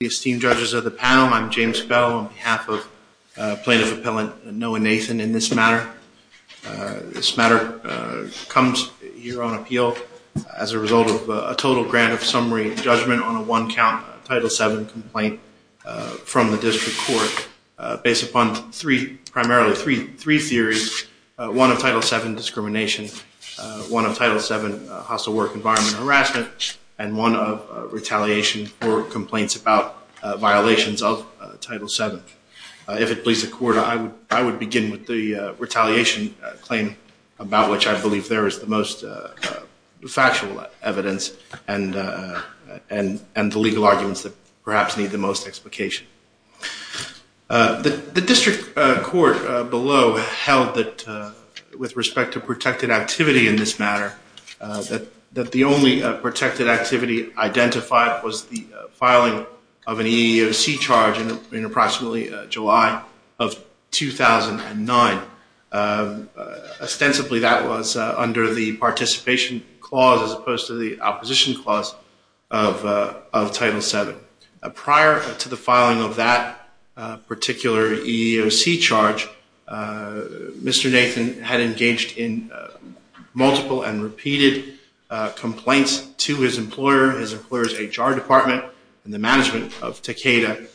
Esteemed judges of the panel, I'm James Spell on behalf of plaintiff appellant Noah Nathan in this matter. This matter comes here on appeal as a result of a total grant of summary judgment on a one count Title VII complaint from the district court based upon three, primarily three theories, one of Title VII discrimination, one of Title VII hostile work environment harassment, and one of retaliation for complaints about violations of Title VII. If it pleases the court, I would begin with the retaliation claim about which I believe there is the most factual evidence and the legal arguments that perhaps need the most explication. The district court below held that with respect to protected activity in this matter, that the only protected activity identified was the filing of an EEOC charge in approximately July of 2009. Ostensibly that was under the participation clause as opposed to the opposition clause of Title VII. Prior to the filing of that particular EEOC charge, Mr. Nathan had engaged in multiple and repeated complaints to his employer, his employer's HR department, and the management of Takeda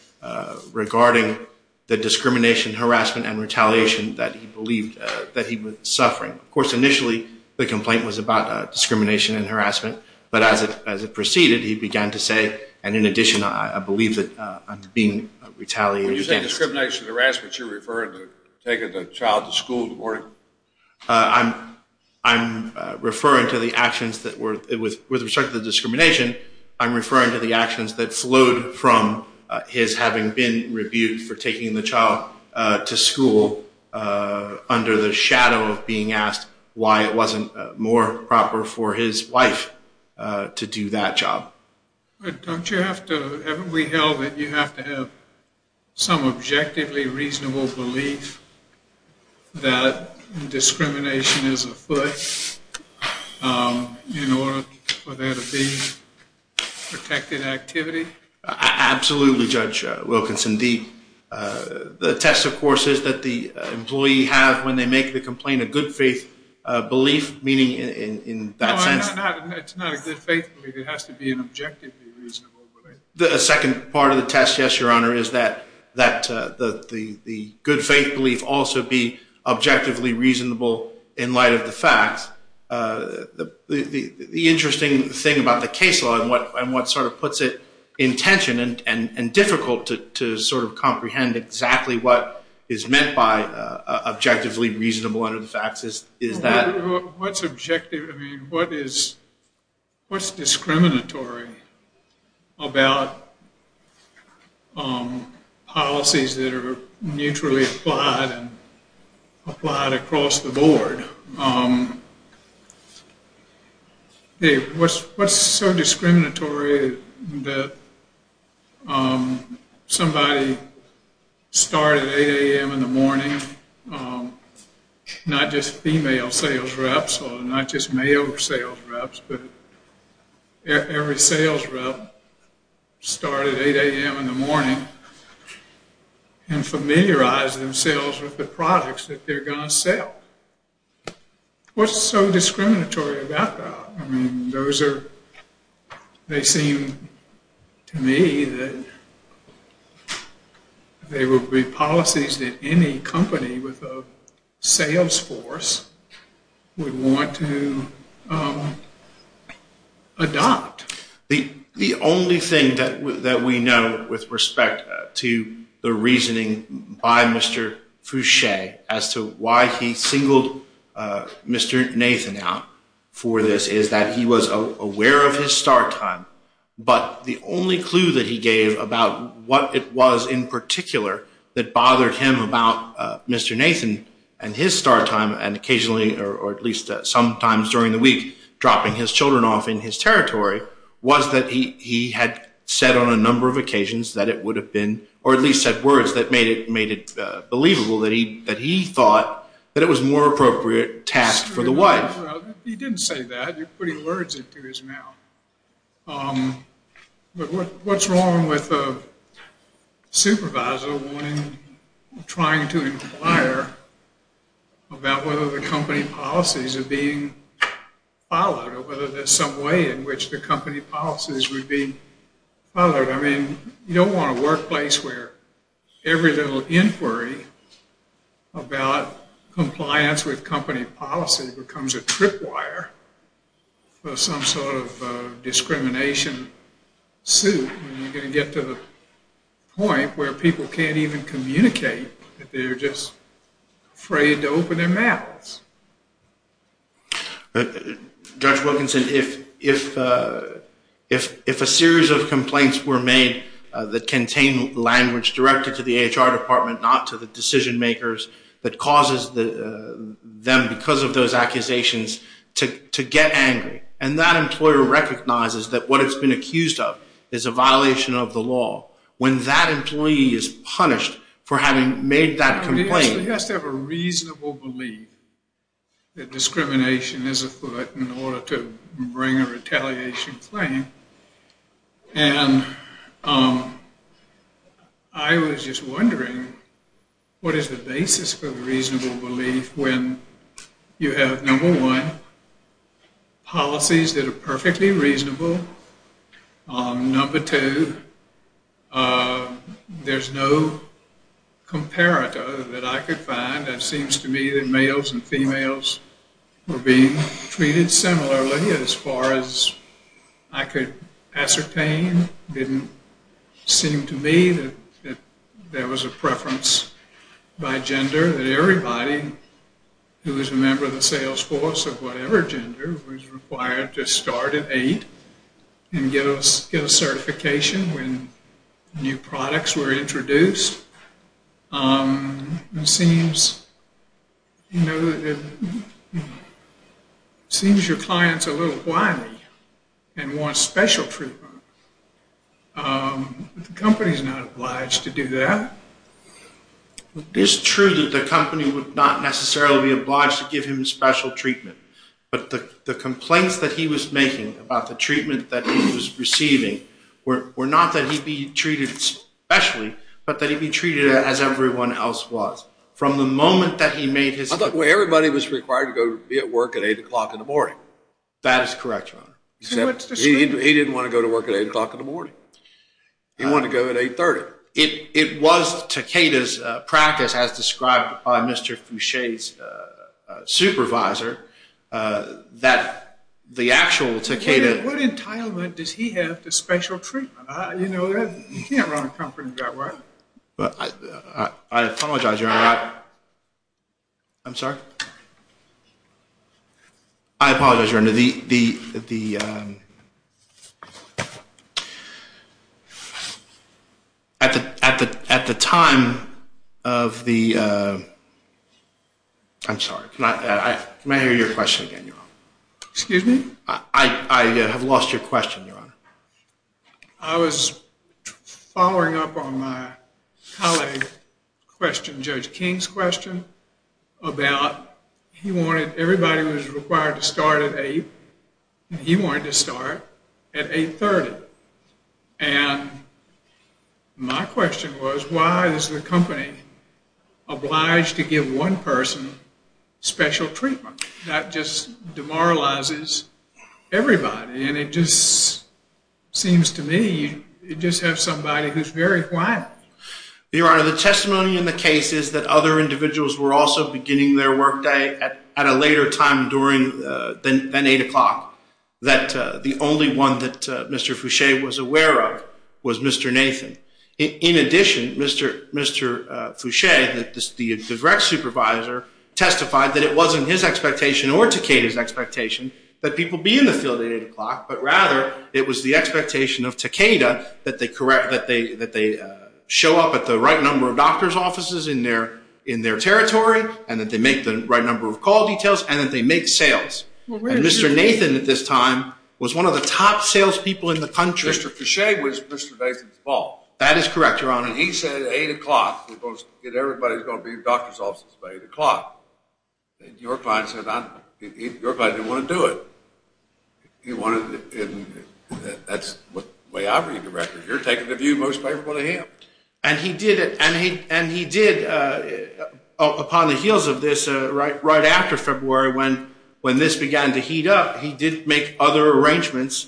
regarding the discrimination, harassment, and retaliation that he believed that he was suffering. Of course, initially, the complaint was about discrimination and harassment, but as it proceeded, he began to say, and in addition, I believe that being retaliated against. When you say discrimination and harassment, you're referring to taking the child to school in the morning? I'm referring to the actions that were, with respect to the discrimination, I'm referring to the actions that flowed from his having been rebuked for taking the child to school under the shadow of being asked why it wasn't more proper for his wife to do that job. But don't you have to, haven't we held that you have to have some objectively reasonable belief that discrimination is afoot in order for there to be protected activity? Absolutely, Judge Wilkinson. The test, of course, is that the employee have, when they make the complaint, a good faith belief, meaning in that sense. It's not a good faith belief. It has to be an objectively reasonable belief. The second part of the test, yes, Your Honor, is that the good faith belief also be objectively reasonable in light of the facts. The interesting thing about the case law and what sort of puts it in tension and difficult to sort of comprehend exactly what is meant by objectively reasonable under the facts is that. What's objective, I mean, what's discriminatory about policies that are neutrally applied and applied across the board? What's so discriminatory that somebody started at 8 a.m. in the morning, not just female sales reps or not just male sales reps, but every sales rep started at 8 a.m. in the morning and familiarized themselves with the products that they're going to sell? What's so discriminatory about that? I mean, those are, they seem to me that they would be policies that any company with a sales force would want to adopt. The only thing that we know with respect to the reasoning by Mr. Fouché as to why he singled Mr. Nathan out for this is that he was aware of his start time. But the only clue that he gave about what it was in particular that bothered him about Mr. Nathan and his start time and occasionally or at least sometimes during the week dropping his children off in his territory was that he had said on a number of occasions that it would have been, or at least said words that made it believable that he thought that it was a more appropriate task for the wife. He didn't say that, but he lured it to his mouth. But what's wrong with a supervisor wanting, trying to inquire about whether the company policies are being followed or whether there's some way in which the company policies would be followed? I mean, you don't want a workplace where every little inquiry about compliance with company policy becomes a trip wire for some sort of discrimination suit. You're going to get to the point where people can't even communicate. They're just afraid to open their mouths. Judge Wilkinson, if a series of complaints were made that contain language directed to the HR department, not to the decision makers, that causes them, because of those accusations, to get angry and that employer recognizes that what it's been accused of is a violation of the law, when that employee is punished for having made that complaint. You have to have a reasonable belief that discrimination is afoot in order to bring a retaliation claim. And I was just wondering what is the basis for the reasonable belief when you have, number one, policies that are perfectly reasonable. Number two, there's no comparator that I could find that seems to me that males and females were being treated similarly as far as I could ascertain. It didn't seem to me that there was a preference by gender, that everybody who was a member of the sales force of whatever gender was required to start at eight and get a certification when new products were introduced. It seems your clients are a little wily and want special treatment. The company's not obliged to do that. It is true that the company would not necessarily be obliged to give him special treatment. But the complaints that he was making about the treatment that he was receiving were not that he'd be treated specially, but that he'd be treated as everyone else was. From the moment that he made his… Everybody was required to go to work at 8 o'clock in the morning. That is correct, Your Honor. He didn't want to go to work at 8 o'clock in the morning. He wanted to go at 8.30. It was Takeda's practice, as described by Mr. Foucher's supervisor, that the actual Takeda… What entitlement does he have to special treatment? You can't run a company that way. I apologize, Your Honor. I apologize, Your Honor. At the time of the… I'm sorry. Can I hear your question again, Your Honor? Excuse me? I have lost your question, Your Honor. I was following up on my colleague's question, Judge King's question, about everybody was required to start at 8. He wanted to start at 8.30. And my question was, why is the company obliged to give one person special treatment? That just demoralizes everybody. And it just seems to me you just have somebody who's very quiet. Your Honor, the testimony in the case is that other individuals were also beginning their workday at a later time than 8 o'clock. That the only one that Mr. Foucher was aware of was Mr. Nathan. In addition, Mr. Foucher, the direct supervisor, testified that it wasn't his expectation or Takeda's expectation that people be in the field at 8 o'clock, but rather it was the expectation of Takeda that they show up at the right number of doctor's offices in their territory, and that they make the right number of call details, and that they make sales. And Mr. Nathan at this time was one of the top salespeople in the country. Mr. Foucher was Mr. Nathan's fault. That is correct, Your Honor. He said at 8 o'clock, everybody's going to be at doctor's offices by 8 o'clock. Your client said your client didn't want to do it. That's the way I read the record. You're taking the view most favorable to him. And he did it. And he did, upon the heels of this, right after February when this began to heat up, he did make other arrangements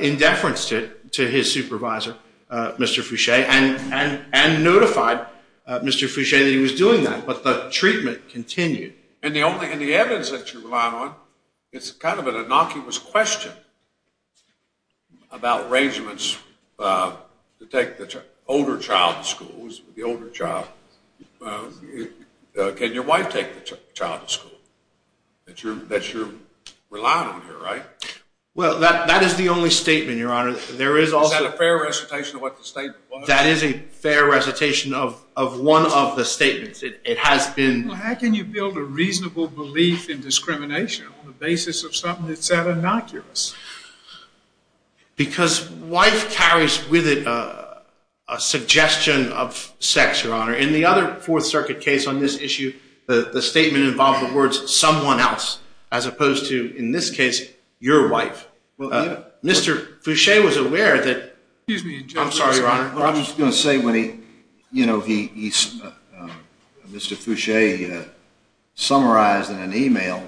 in deference to his supervisor, Mr. Foucher, and notified Mr. Foucher that he was doing that. But the treatment continued. And the evidence that you're relying on is kind of an innocuous question about arrangements to take the older child to school. Can your wife take the child to school? That's what you're relying on here, right? Well, that is the only statement, Your Honor. Is that a fair recitation of what the statement was? That is a fair recitation of one of the statements. Well, how can you build a reasonable belief in discrimination on the basis of something that's that innocuous? Because wife carries with it a suggestion of sex, Your Honor. In the other Fourth Circuit case on this issue, the statement involved the words, someone else, as opposed to, in this case, your wife. Well, yeah. Mr. Foucher was aware that – Excuse me, Your Honor. I'm sorry, Your Honor. I'm just going to say, Mr. Foucher summarized in an email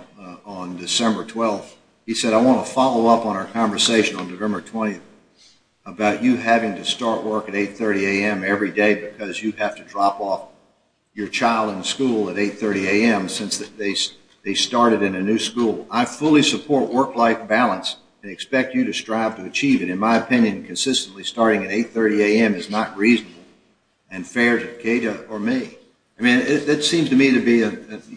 on December 12th, he said, I want to follow up on our conversation on November 20th about you having to start work at 8.30 a.m. every day because you have to drop off your child in school at 8.30 a.m. since they started in a new school. I fully support work-life balance and expect you to strive to achieve it, but in my opinion, consistently starting at 8.30 a.m. is not reasonable and fair to Kata or me. I mean, it seems to me to be about as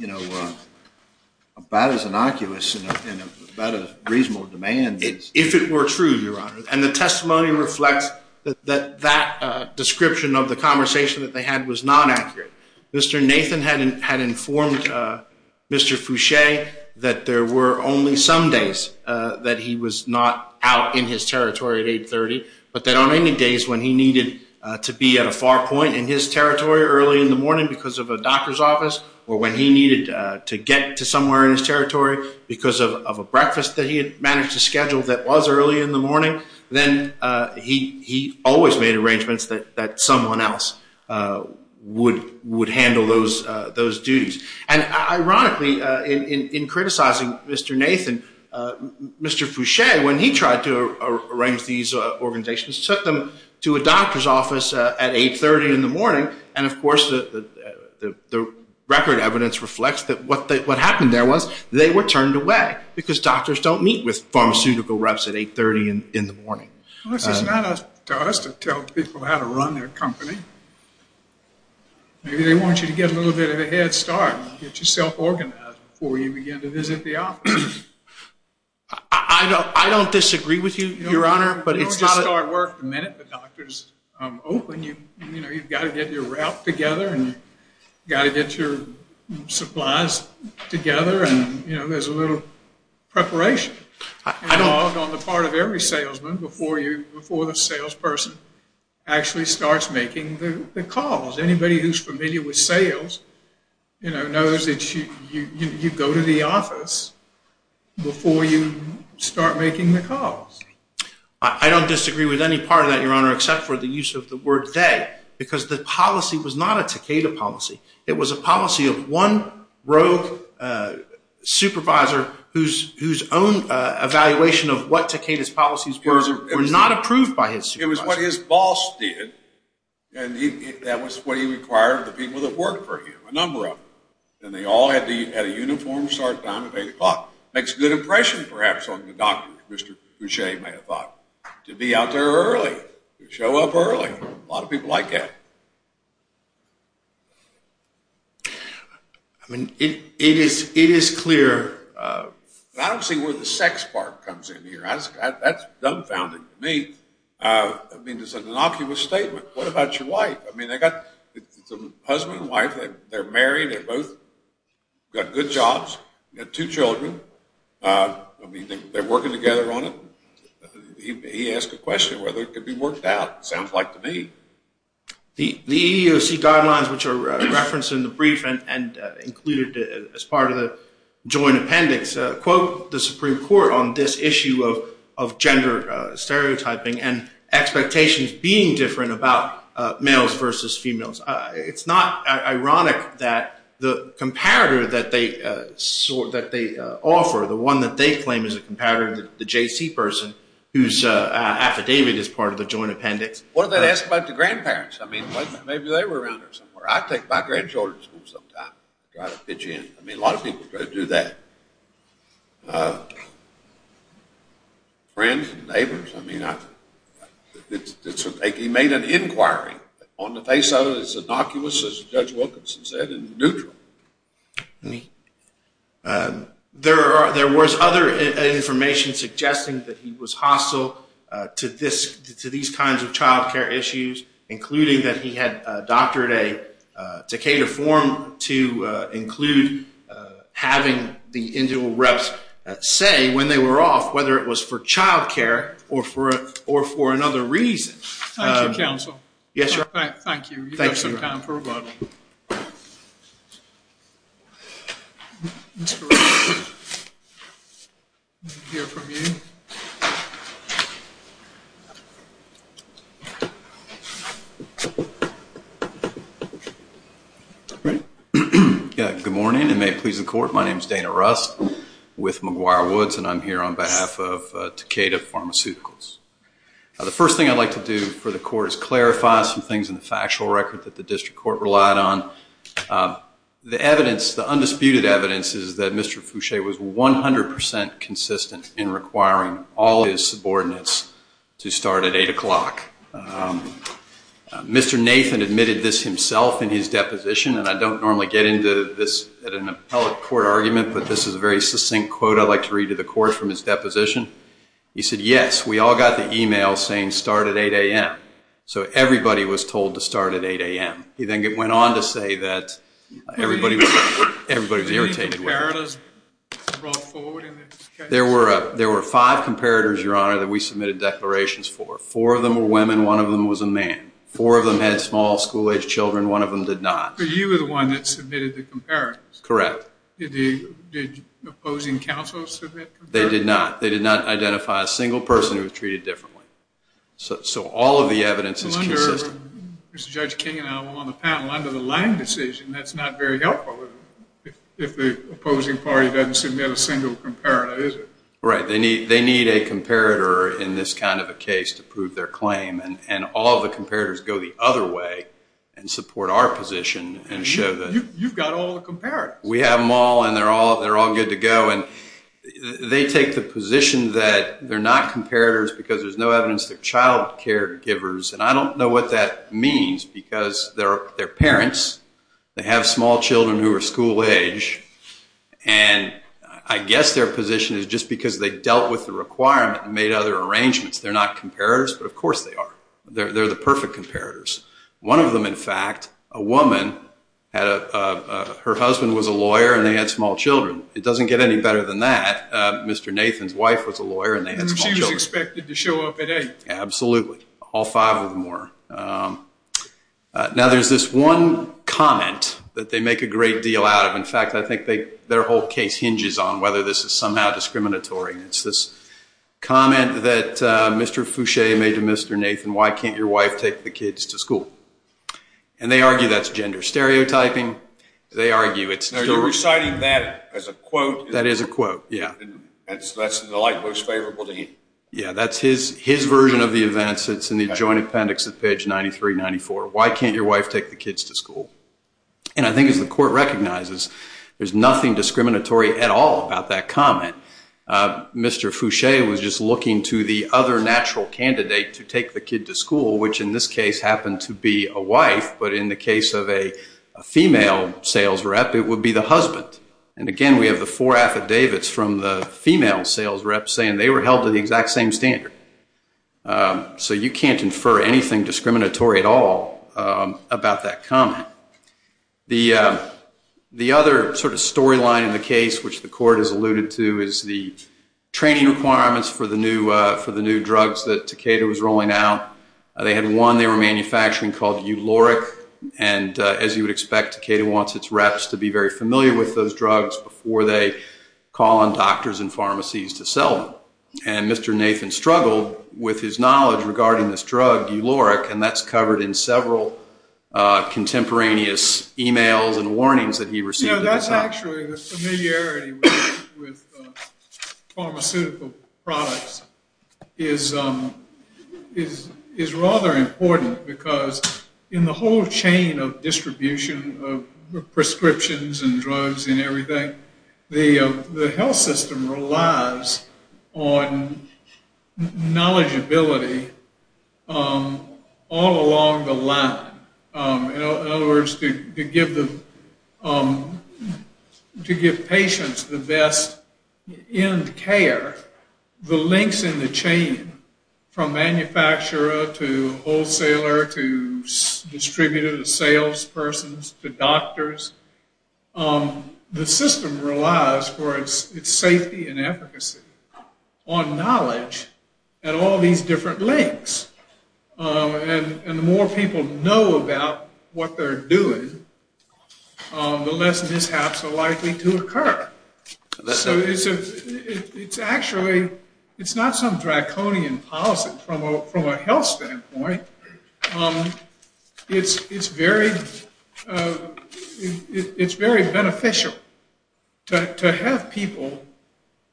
innocuous and about a reasonable demand. If it were true, Your Honor, and the testimony reflects that that description of the conversation that they had was not accurate. Mr. Nathan had informed Mr. Foucher that there were only some days that he was not out in his territory at 8.30, but that on any days when he needed to be at a far point in his territory early in the morning because of a doctor's office or when he needed to get to somewhere in his territory because of a breakfast that he had managed to schedule that was early in the morning, then he always made arrangements that someone else would handle those duties. And ironically, in criticizing Mr. Nathan, Mr. Foucher, when he tried to arrange these organizations, took them to a doctor's office at 8.30 in the morning, and of course the record evidence reflects that what happened there was they were turned away because doctors don't meet with pharmaceutical reps at 8.30 in the morning. Well, this is not up to us to tell people how to run their company. Maybe they want you to get a little bit of a head start, get yourself organized before you begin to visit the office. I don't disagree with you, Your Honor. You don't just start work the minute the doctor's open. You've got to get your rep together and you've got to get your supplies together, and there's a little preparation involved on the part of every salesman before the salesperson actually starts making the calls. Anybody who's familiar with sales knows that you go to the office before you start making the calls. I don't disagree with any part of that, Your Honor, except for the use of the word they because the policy was not a Takeda policy. It was a policy of one rogue supervisor whose own evaluation of what Takeda's policies were were not approved by his supervisor. It was what his boss did, and that was what he required of the people that worked for him, a number of them, and they all had a uniformed start time of 8 o'clock. Makes a good impression, perhaps, on the doctor, as Mr. Boucher may have thought, to be out there early, to show up early. A lot of people like that. I mean, it is clear. I don't see where the sex part comes in here. That's dumbfounding to me. I mean, it's an innocuous statement. What about your wife? I mean, they've got a husband and wife. They're married. They've both got good jobs. They've got two children. I mean, they're working together on it. He asked a question whether it could be worked out. It sounds like to me. The EEOC guidelines, which are referenced in the brief and included as part of the joint appendix, quote the Supreme Court on this issue of gender stereotyping and expectations being different about males versus females. It's not ironic that the comparator that they offer, the one that they claim is a comparator, the JC person whose affidavit is part of the joint appendix. What did that ask about the grandparents? I mean, maybe they were around here somewhere. I take my grandchildren to school sometimes. I try to pitch in. I mean, a lot of people try to do that. Friends and neighbors. I mean, he made an inquiry. On the face of it, it's innocuous, as Judge Wilkinson said, neutral. There was other information suggesting that he was hostile to these kinds of child care issues, including that he had doctored a Takeda form to include having the individual reps say when they were off whether it was for child care or for another reason. Thank you, counsel. Yes, sir. Thank you. Thank you. We have some time for rebuttal. Good morning, and may it please the Court. My name is Dana Rust with McGuire Woods, and I'm here on behalf of Takeda Pharmaceuticals. The first thing I'd like to do for the Court is clarify some things in the factual record that the District Court relied on. The evidence, the undisputed evidence, is that Mr. Fouché was 100% consistent in requiring all of his subordinates to start at 8 o'clock. Mr. Nathan admitted this himself in his deposition, and I don't normally get into this at an appellate court argument, but this is a very succinct quote I'd like to read to the Court from his deposition. He said, yes, we all got the email saying start at 8 a.m., so everybody was told to start at 8 a.m. He then went on to say that everybody was irritated with him. Were there any comparators brought forward in this case? There were five comparators, Your Honor, that we submitted declarations for. Four of them were women, one of them was a man. Four of them had small school-aged children, one of them did not. But you were the one that submitted the comparators. Correct. Did the opposing counsel submit comparators? They did not. They did not identify a single person who was treated differently. So all of the evidence is consistent. Mr. Judge King and I were on the panel. Under the Lange decision, that's not very helpful if the opposing party doesn't submit a single comparator, is it? Right. They need a comparator in this kind of a case to prove their claim, and all the comparators go the other way and support our position and show that we have them all and they're all good to go. And they take the position that they're not comparators because there's no evidence they're child caregivers. And I don't know what that means because they're parents, they have small children who are school-aged, and I guess their position is just because they dealt with the requirement and made other arrangements. They're not comparators, but, of course, they are. They're the perfect comparators. One of them, in fact, a woman, her husband was a lawyer and they had small children. It doesn't get any better than that. Mr. Nathan's wife was a lawyer and they had small children. She was expected to show up at 8. Absolutely. All five of them were. Now there's this one comment that they make a great deal out of. In fact, I think their whole case hinges on whether this is somehow discriminatory, and it's this comment that Mr. Foucher made to Mr. Nathan, why can't your wife take the kids to school? And they argue that's gender stereotyping. They argue it's... No, you're reciting that as a quote. That is a quote, yeah. That's the light most favorable to him. Yeah, that's his version of the events. It's in the Joint Appendix at page 9394. Why can't your wife take the kids to school? And I think as the court recognizes, there's nothing discriminatory at all about that comment. Mr. Foucher was just looking to the other natural candidate to take the kid to school, which in this case happened to be a wife, but in the case of a female sales rep, it would be the husband. And, again, we have the four affidavits from the female sales rep saying they were held to the exact same standard. So you can't infer anything discriminatory at all about that comment. The other sort of storyline in the case, which the court has alluded to, is the training requirements for the new drugs that Takeda was rolling out. They had one they were manufacturing called Euloric, and as you would expect, Takeda wants its reps to be very familiar with those drugs before they call on doctors and pharmacies to sell them. And Mr. Nathan struggled with his knowledge regarding this drug, Euloric, and that's covered in several contemporaneous e-mails and warnings that he received at the time. You know, that's actually the familiarity with pharmaceutical products is rather important because in the whole chain of distribution of prescriptions and drugs and everything, the health system relies on knowledgeability all along the line. In other words, to give patients the best end care, the links in the chain from manufacturer to wholesaler to distributor to sales persons to doctors, the system relies for its safety and efficacy on knowledge and all these different links. And the more people know about what they're doing, it's actually not some draconian policy from a health standpoint. It's very beneficial to have people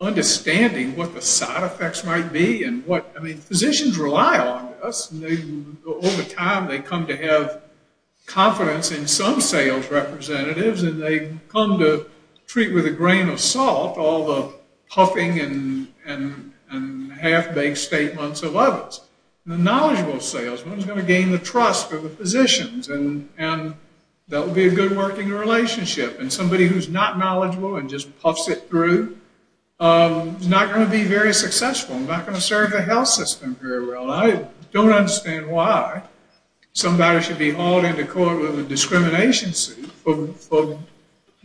understanding what the side effects might be. I mean, physicians rely on us. Over time, they come to have confidence in some sales representatives and they come to treat with a grain of salt all the puffing and half-baked statements of others. The knowledgeable salesman is going to gain the trust of the physicians and that will be a good working relationship. And somebody who's not knowledgeable and just puffs it through is not going to be very successful and not going to serve the health system very well. I don't understand why somebody should be hauled into court with a discrimination suit for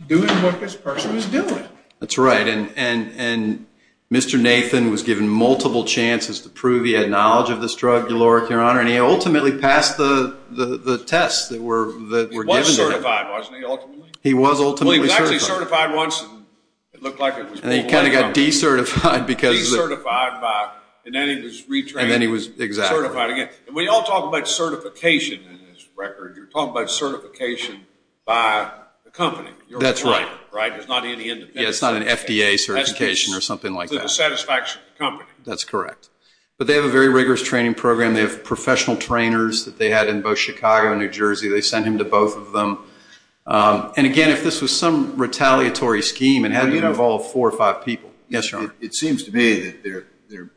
doing what this person is doing. That's right. And Mr. Nathan was given multiple chances to prove he had knowledge of this drug, your Lord, your Honor, and he ultimately passed the tests that were given to him. He was certified, wasn't he, ultimately? He was ultimately certified. Well, he was actually certified once and it looked like it was pulled right out. And he kind of got decertified because of it. Decertified by, and then he was retrained. And then he was, exactly. Certified again. And we all talk about certification in this record. You're talking about certification by the company. That's right. Right? There's not any independent certification. Yeah, it's not an FDA certification or something like that. The satisfaction of the company. That's correct. But they have a very rigorous training program. They have professional trainers that they had in both Chicago and New Jersey. They sent him to both of them. And, again, if this was some retaliatory scheme and had to involve four or five people. Yes, Your Honor. It seems to me that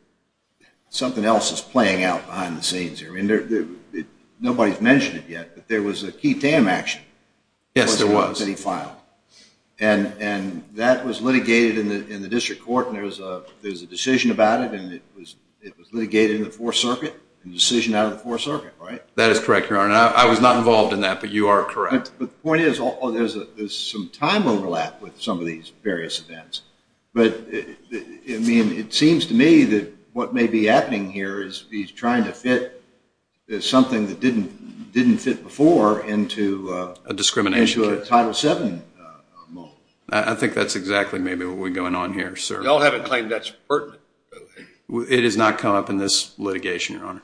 something else is playing out behind the scenes here. Nobody's mentioned it yet, but there was a Key Tam action. Yes, there was. That he filed. And that was litigated in the district court. And there's a decision about it and it was litigated in the Fourth Circuit. A decision out of the Fourth Circuit, right? That is correct, Your Honor. I was not involved in that, but you are correct. But the point is, there's some time overlap with some of these various events. But, I mean, it seems to me that what may be happening here is he's trying to fit something that didn't fit before into a Title VII model. I think that's exactly, maybe, what we're going on here, sir. Y'all haven't claimed that's pertinent. It has not come up in this litigation, Your Honor.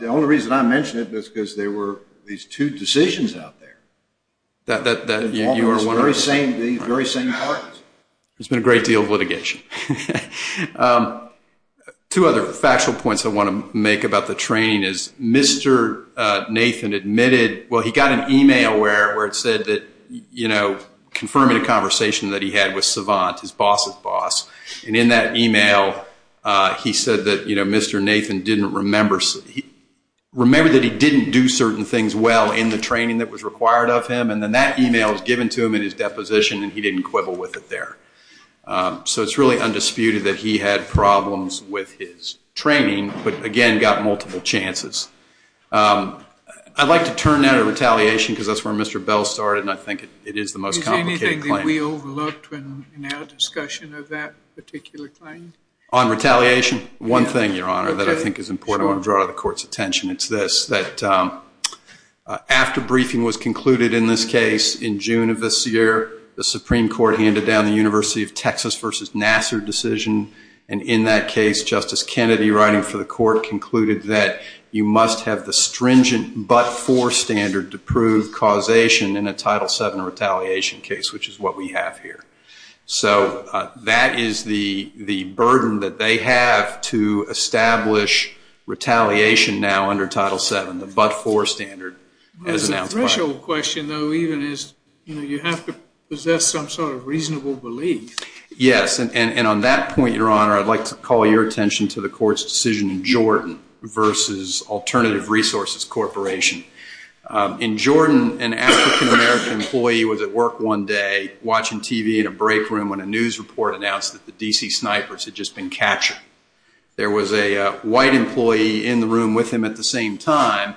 The only reason I mention it is because there were these two decisions out there. Very same parties. There's been a great deal of litigation. Two other factual points I want to make about the training is, Mr. Nathan admitted, well, he got an email where it said that, you know, confirming a conversation that he had with Savant, his boss's boss, and in that email he said that, you know, Mr. Nathan didn't remember that he didn't do certain things well in the training that was required of him and then that email was given to him in his deposition and he didn't quibble with it there. So it's really undisputed that he had problems with his training, but, again, got multiple chances. I'd like to turn now to retaliation because that's where Mr. Bell started and I think it is the most complicated claim. Is there anything that we overlooked in our discussion of that particular claim? On retaliation, one thing, Your Honor, that I think is important that I want to draw the Court's attention to is this, that after briefing was concluded in this case in June of this year, the Supreme Court handed down the University of Texas v. Nassar decision, and in that case Justice Kennedy, writing for the Court, concluded that you must have the stringent but forestander to prove causation in a Title VII retaliation case, which is what we have here. So that is the burden that they have to establish retaliation now under Title VII, the but forestander. That's a crucial question, though, even as you have to possess some sort of reasonable belief. Yes, and on that point, Your Honor, I'd like to call your attention to the Court's decision in Jordan versus Alternative Resources Corporation. In Jordan, an African-American employee was at work one day, watching TV in a break room when a news report announced that the D.C. snipers had just been captured. There was a white employee in the room with him at the same time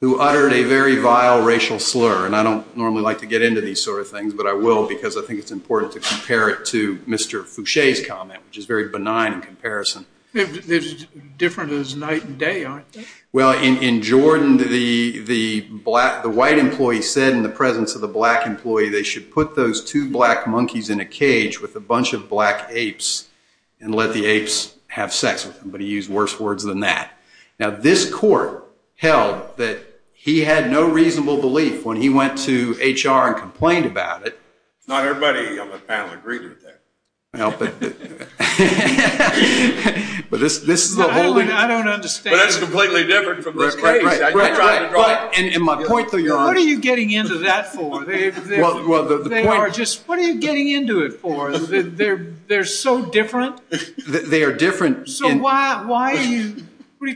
who uttered a very vile racial slur. And I don't normally like to get into these sort of things, but I will because I think it's important to compare it to Mr. Foucher's comment, which is very benign in comparison. It's different as night and day, aren't they? Well, in Jordan, the white employee said in the presence of the black employee they should put those two black monkeys in a cage with a bunch of black apes and let the apes have sex with them. But he used worse words than that. Now, this Court held that he had no reasonable belief when he went to HR and complained about it. Not everybody on the panel agreed with that. Well, but this is the whole thing. I don't understand. And my point, though, Your Honor. What are you getting into that for? What are you getting into it for? They're so different. They are different. So what are you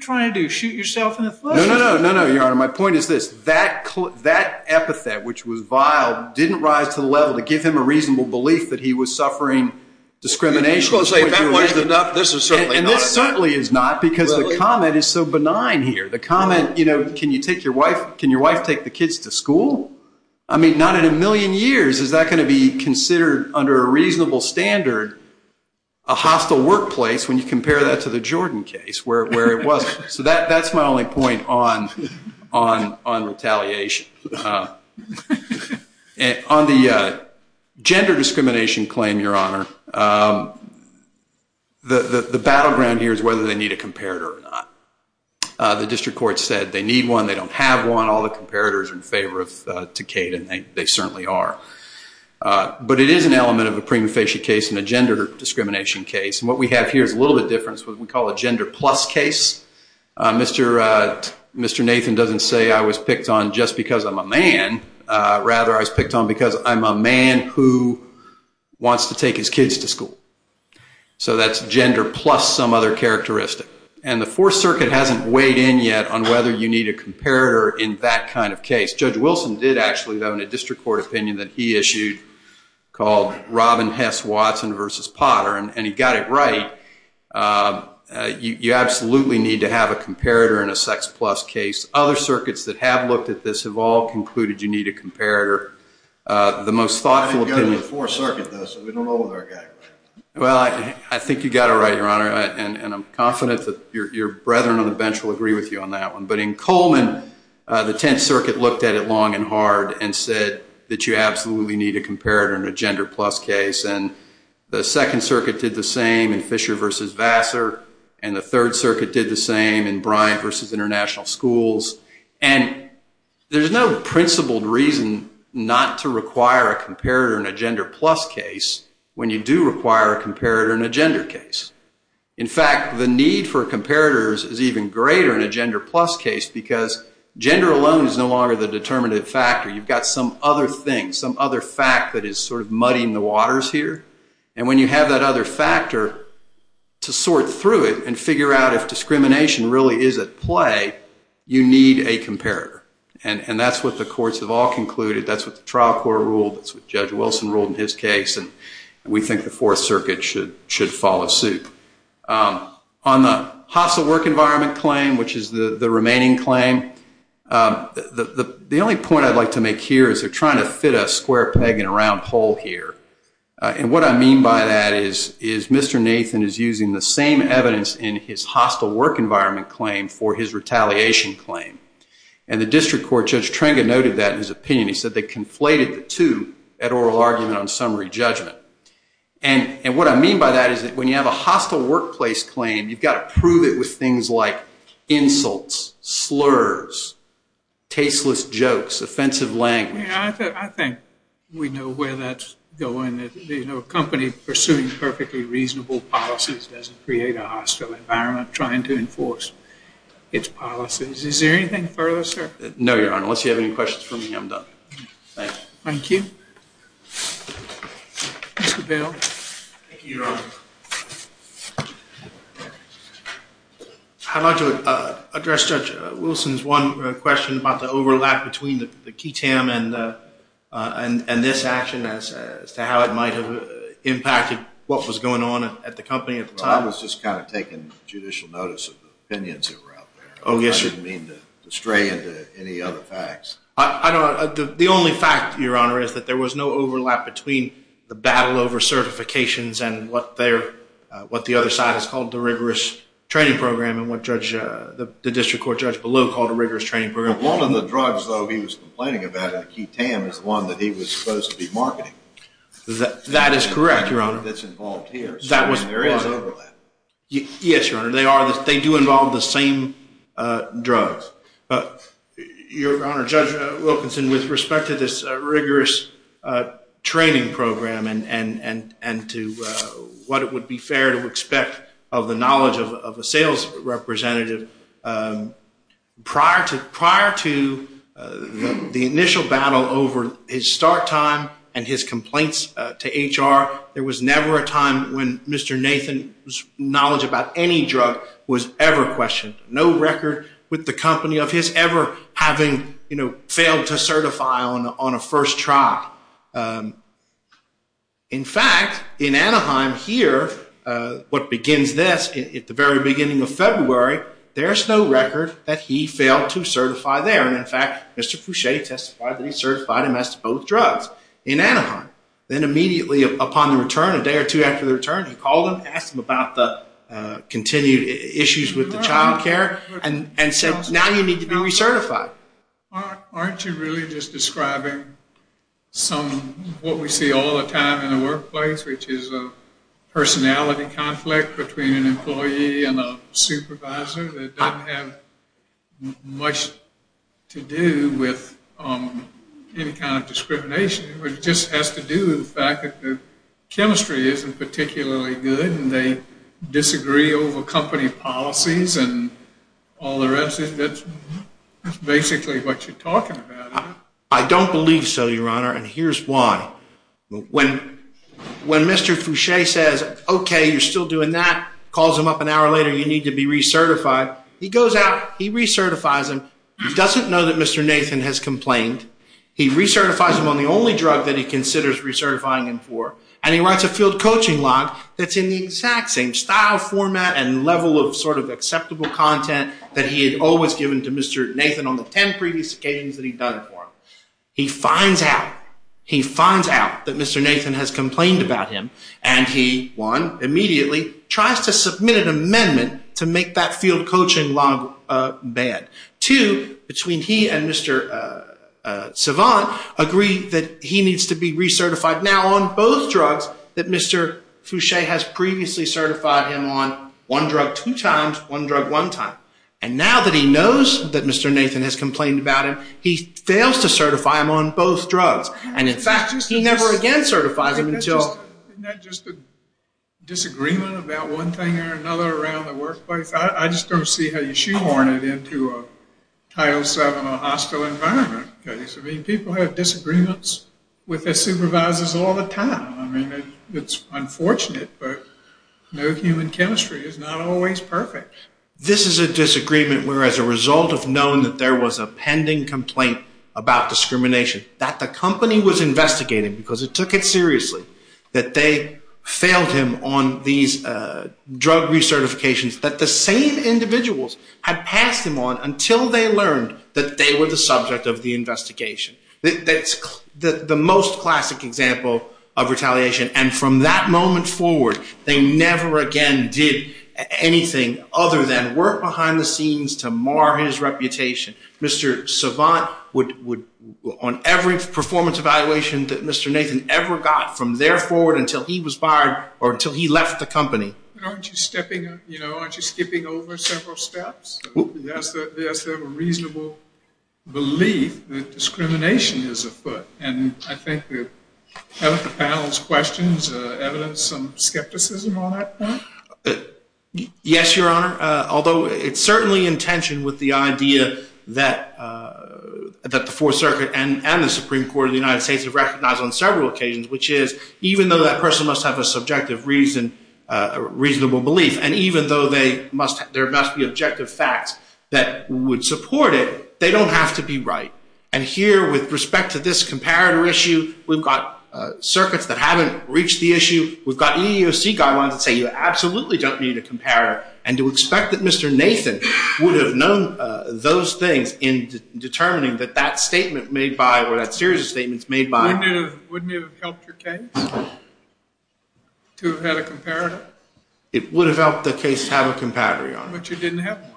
trying to do, shoot yourself in the foot? No, no, no, Your Honor. My point is this. That epithet, which was vile, didn't rise to the level to give him a reasonable belief that he was suffering discrimination. And this certainly is not because the comment is so benign here. The comment, you know, can your wife take the kids to school? I mean, not in a million years is that going to be considered, under a reasonable standard, a hostile workplace when you compare that to the Jordan case where it was. So that's my only point on retaliation. On the gender discrimination claim, Your Honor, the battleground here is whether they need a comparator or not. The district court said they need one, they don't have one. All the comparators are in favor of Takeda, and they certainly are. But it is an element of a prima facie case and a gender discrimination case. And what we have here is a little bit different. It's what we call a gender plus case. Mr. Nathan doesn't say I was picked on just because I'm a man. Rather, I was picked on because I'm a man who wants to take his kids to school. So that's gender plus some other characteristic. And the Fourth Circuit hasn't weighed in yet on whether you need a comparator in that kind of case. Judge Wilson did actually, though, in a district court opinion that he issued called Robin Hess Watson versus Potter, and he got it right. You absolutely need to have a comparator in a sex plus case. Other circuits that have looked at this have all concluded you need a comparator. The most thoughtful opinion... I haven't gone to the Fourth Circuit, though, so we don't know whether I got it right. Well, I think you got it right, Your Honor. And I'm confident that your brethren on the bench will agree with you on that one. But in Coleman, the Tenth Circuit looked at it long and hard and said that you absolutely need a comparator in a gender plus case. And the Second Circuit did the same in Fisher versus Vassar, and the Third Circuit did the same in Bryant versus International Schools. And there's no principled reason not to require a comparator in a gender plus case when you do require a comparator in a gender case. In fact, the need for a comparator is even greater in a gender plus case because gender alone is no longer the determinative factor. You've got some other thing, some other fact that is sort of muddying the waters here. And when you have that other factor to sort through it and figure out if discrimination really is at play, you need a comparator. And that's what the courts have all concluded. That's what the trial court ruled. That's what Judge Wilson ruled in his case. And we think the Fourth Circuit should follow suit. On the hostile work environment claim, which is the remaining claim, the only point I'd like to make here is they're trying to fit a square peg in a round hole here. And what I mean by that is Mr. Nathan is using the same evidence in his hostile work environment claim for his retaliation claim. He said they conflated the two at oral argument on summary judgment. And what I mean by that is that when you have a hostile workplace claim, you've got to prove it with things like insults, slurs, tasteless jokes, offensive language. I think we know where that's going. A company pursuing perfectly reasonable policies doesn't create a hostile environment Is there anything further, sir? No, Your Honor, unless you have any questions for me, I'm done. Thank you. Mr. Bale. Thank you, Your Honor. I'd like to address Judge Wilson's one question about the overlap between the key tam and this action as to how it might have impacted what was going on at the company at the time. Well, I was just kind of taking judicial notice of the opinions that were out there. I didn't mean to stray into any other facts. The only fact, Your Honor, is that there was no overlap between the battle over certifications and what the other side has called the rigorous training program and what the district court judge below called a rigorous training program. One of the drugs, though, he was complaining about in the key tam is the one that he was supposed to be marketing. That is correct, Your Honor. That's involved here, so there is overlap. Yes, Your Honor, they do involve the same drugs. Your Honor, Judge Wilkinson, with respect to this rigorous training program and to what it would be fair to expect of the knowledge of a sales representative, prior to the initial battle over his start time and his complaints to HR, there was never a time when Mr. Nathan's knowledge about any drug was ever questioned. No record with the company of his ever having failed to certify on a first try. In fact, in Anaheim here, what begins this, at the very beginning of February, there is no record that he failed to certify there. In fact, Mr. Foucher testified that he certified him as to both drugs in Anaheim. Then immediately upon the return, a day or two after the return, he called him and asked him about the continued issues with the child care and said, now you need to be recertified. Aren't you really just describing what we see all the time in the workplace, which is a personality conflict between an employee and a supervisor that doesn't have much to do with any kind of discrimination. It just has to do with the fact that the chemistry isn't particularly good and they disagree over company policies and all the rest. That's basically what you're talking about. I don't believe so, Your Honor, and here's why. When Mr. Foucher says, okay, you're still doing that, calls him up an hour later, you need to be recertified, he goes out, he recertifies him. He doesn't know that Mr. Nathan has complained. He recertifies him on the only drug that he considers recertifying him for, and he writes a field coaching log that's in the exact same style, format, and level of sort of acceptable content that he had always given to Mr. Nathan on the ten previous occasions that he'd done it for him. He finds out. He finds out that Mr. Nathan has complained about him, and he, one, immediately tries to submit an amendment to make that field coaching log ban. Two, between he and Mr. Savant agree that he needs to be recertified now on both drugs that Mr. Foucher has previously certified him on one drug two times, one drug one time. And now that he knows that Mr. Nathan has complained about him, he fails to certify him on both drugs. And, in fact, he never again certifies him until... Isn't that just a disagreement about one thing or another around the workplace? I just don't see how you shoehorn it into a Title VII or a hostile environment case. I mean, people have disagreements with their supervisors all the time. I mean, it's unfortunate, but no human chemistry is not always perfect. This is a disagreement where, as a result of knowing that there was a pending complaint about discrimination, that the company was investigating, because it took it seriously, that they failed him on these drug recertifications that the same individuals had passed him on until they learned that they were the subject of the investigation. That's the most classic example of retaliation. And from that moment forward, they never again did anything other than work behind the scenes to mar his reputation. Mr. Savant would, on every performance evaluation that Mr. Nathan ever got from there forward until he was fired or until he left the company... Aren't you skipping over several steps? Yes, they have a reasonable belief that discrimination is afoot. And I think the other panel's questions, evidence of skepticism on that front? Yes, Your Honor. Although it's certainly in tension with the idea that the Fourth Circuit and the Supreme Court of the United States have recognized on several occasions, which is, even though that person must have a subjective reason, a reasonable belief, and even though there must be objective facts that would support it, they don't have to be right. And here, with respect to this comparator issue, we've got circuits that haven't reached the issue. We've got EEOC guidelines that say you absolutely don't need a comparator. And to expect that Mr. Nathan would have known those things in determining that that statement made by, or that series of statements made by... Wouldn't it have helped your case to have had a comparator? It would have helped the case to have a comparator, Your Honor. But you didn't have one.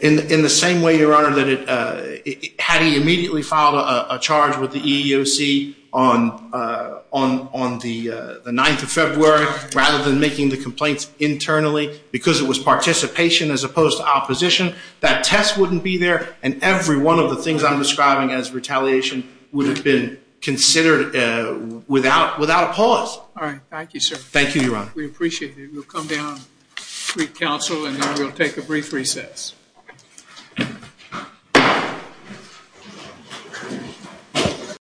In the same way, Your Honor, that had he immediately filed a charge with the EEOC on the 9th of February, rather than making the complaints internally because it was participation as opposed to opposition, that test wouldn't be there, and every one of the things I'm describing as retaliation would have been considered without a pause. All right. Thank you, sir. Thank you, Your Honor. We appreciate it. We'll come down and speak to counsel, and then we'll take a brief recess.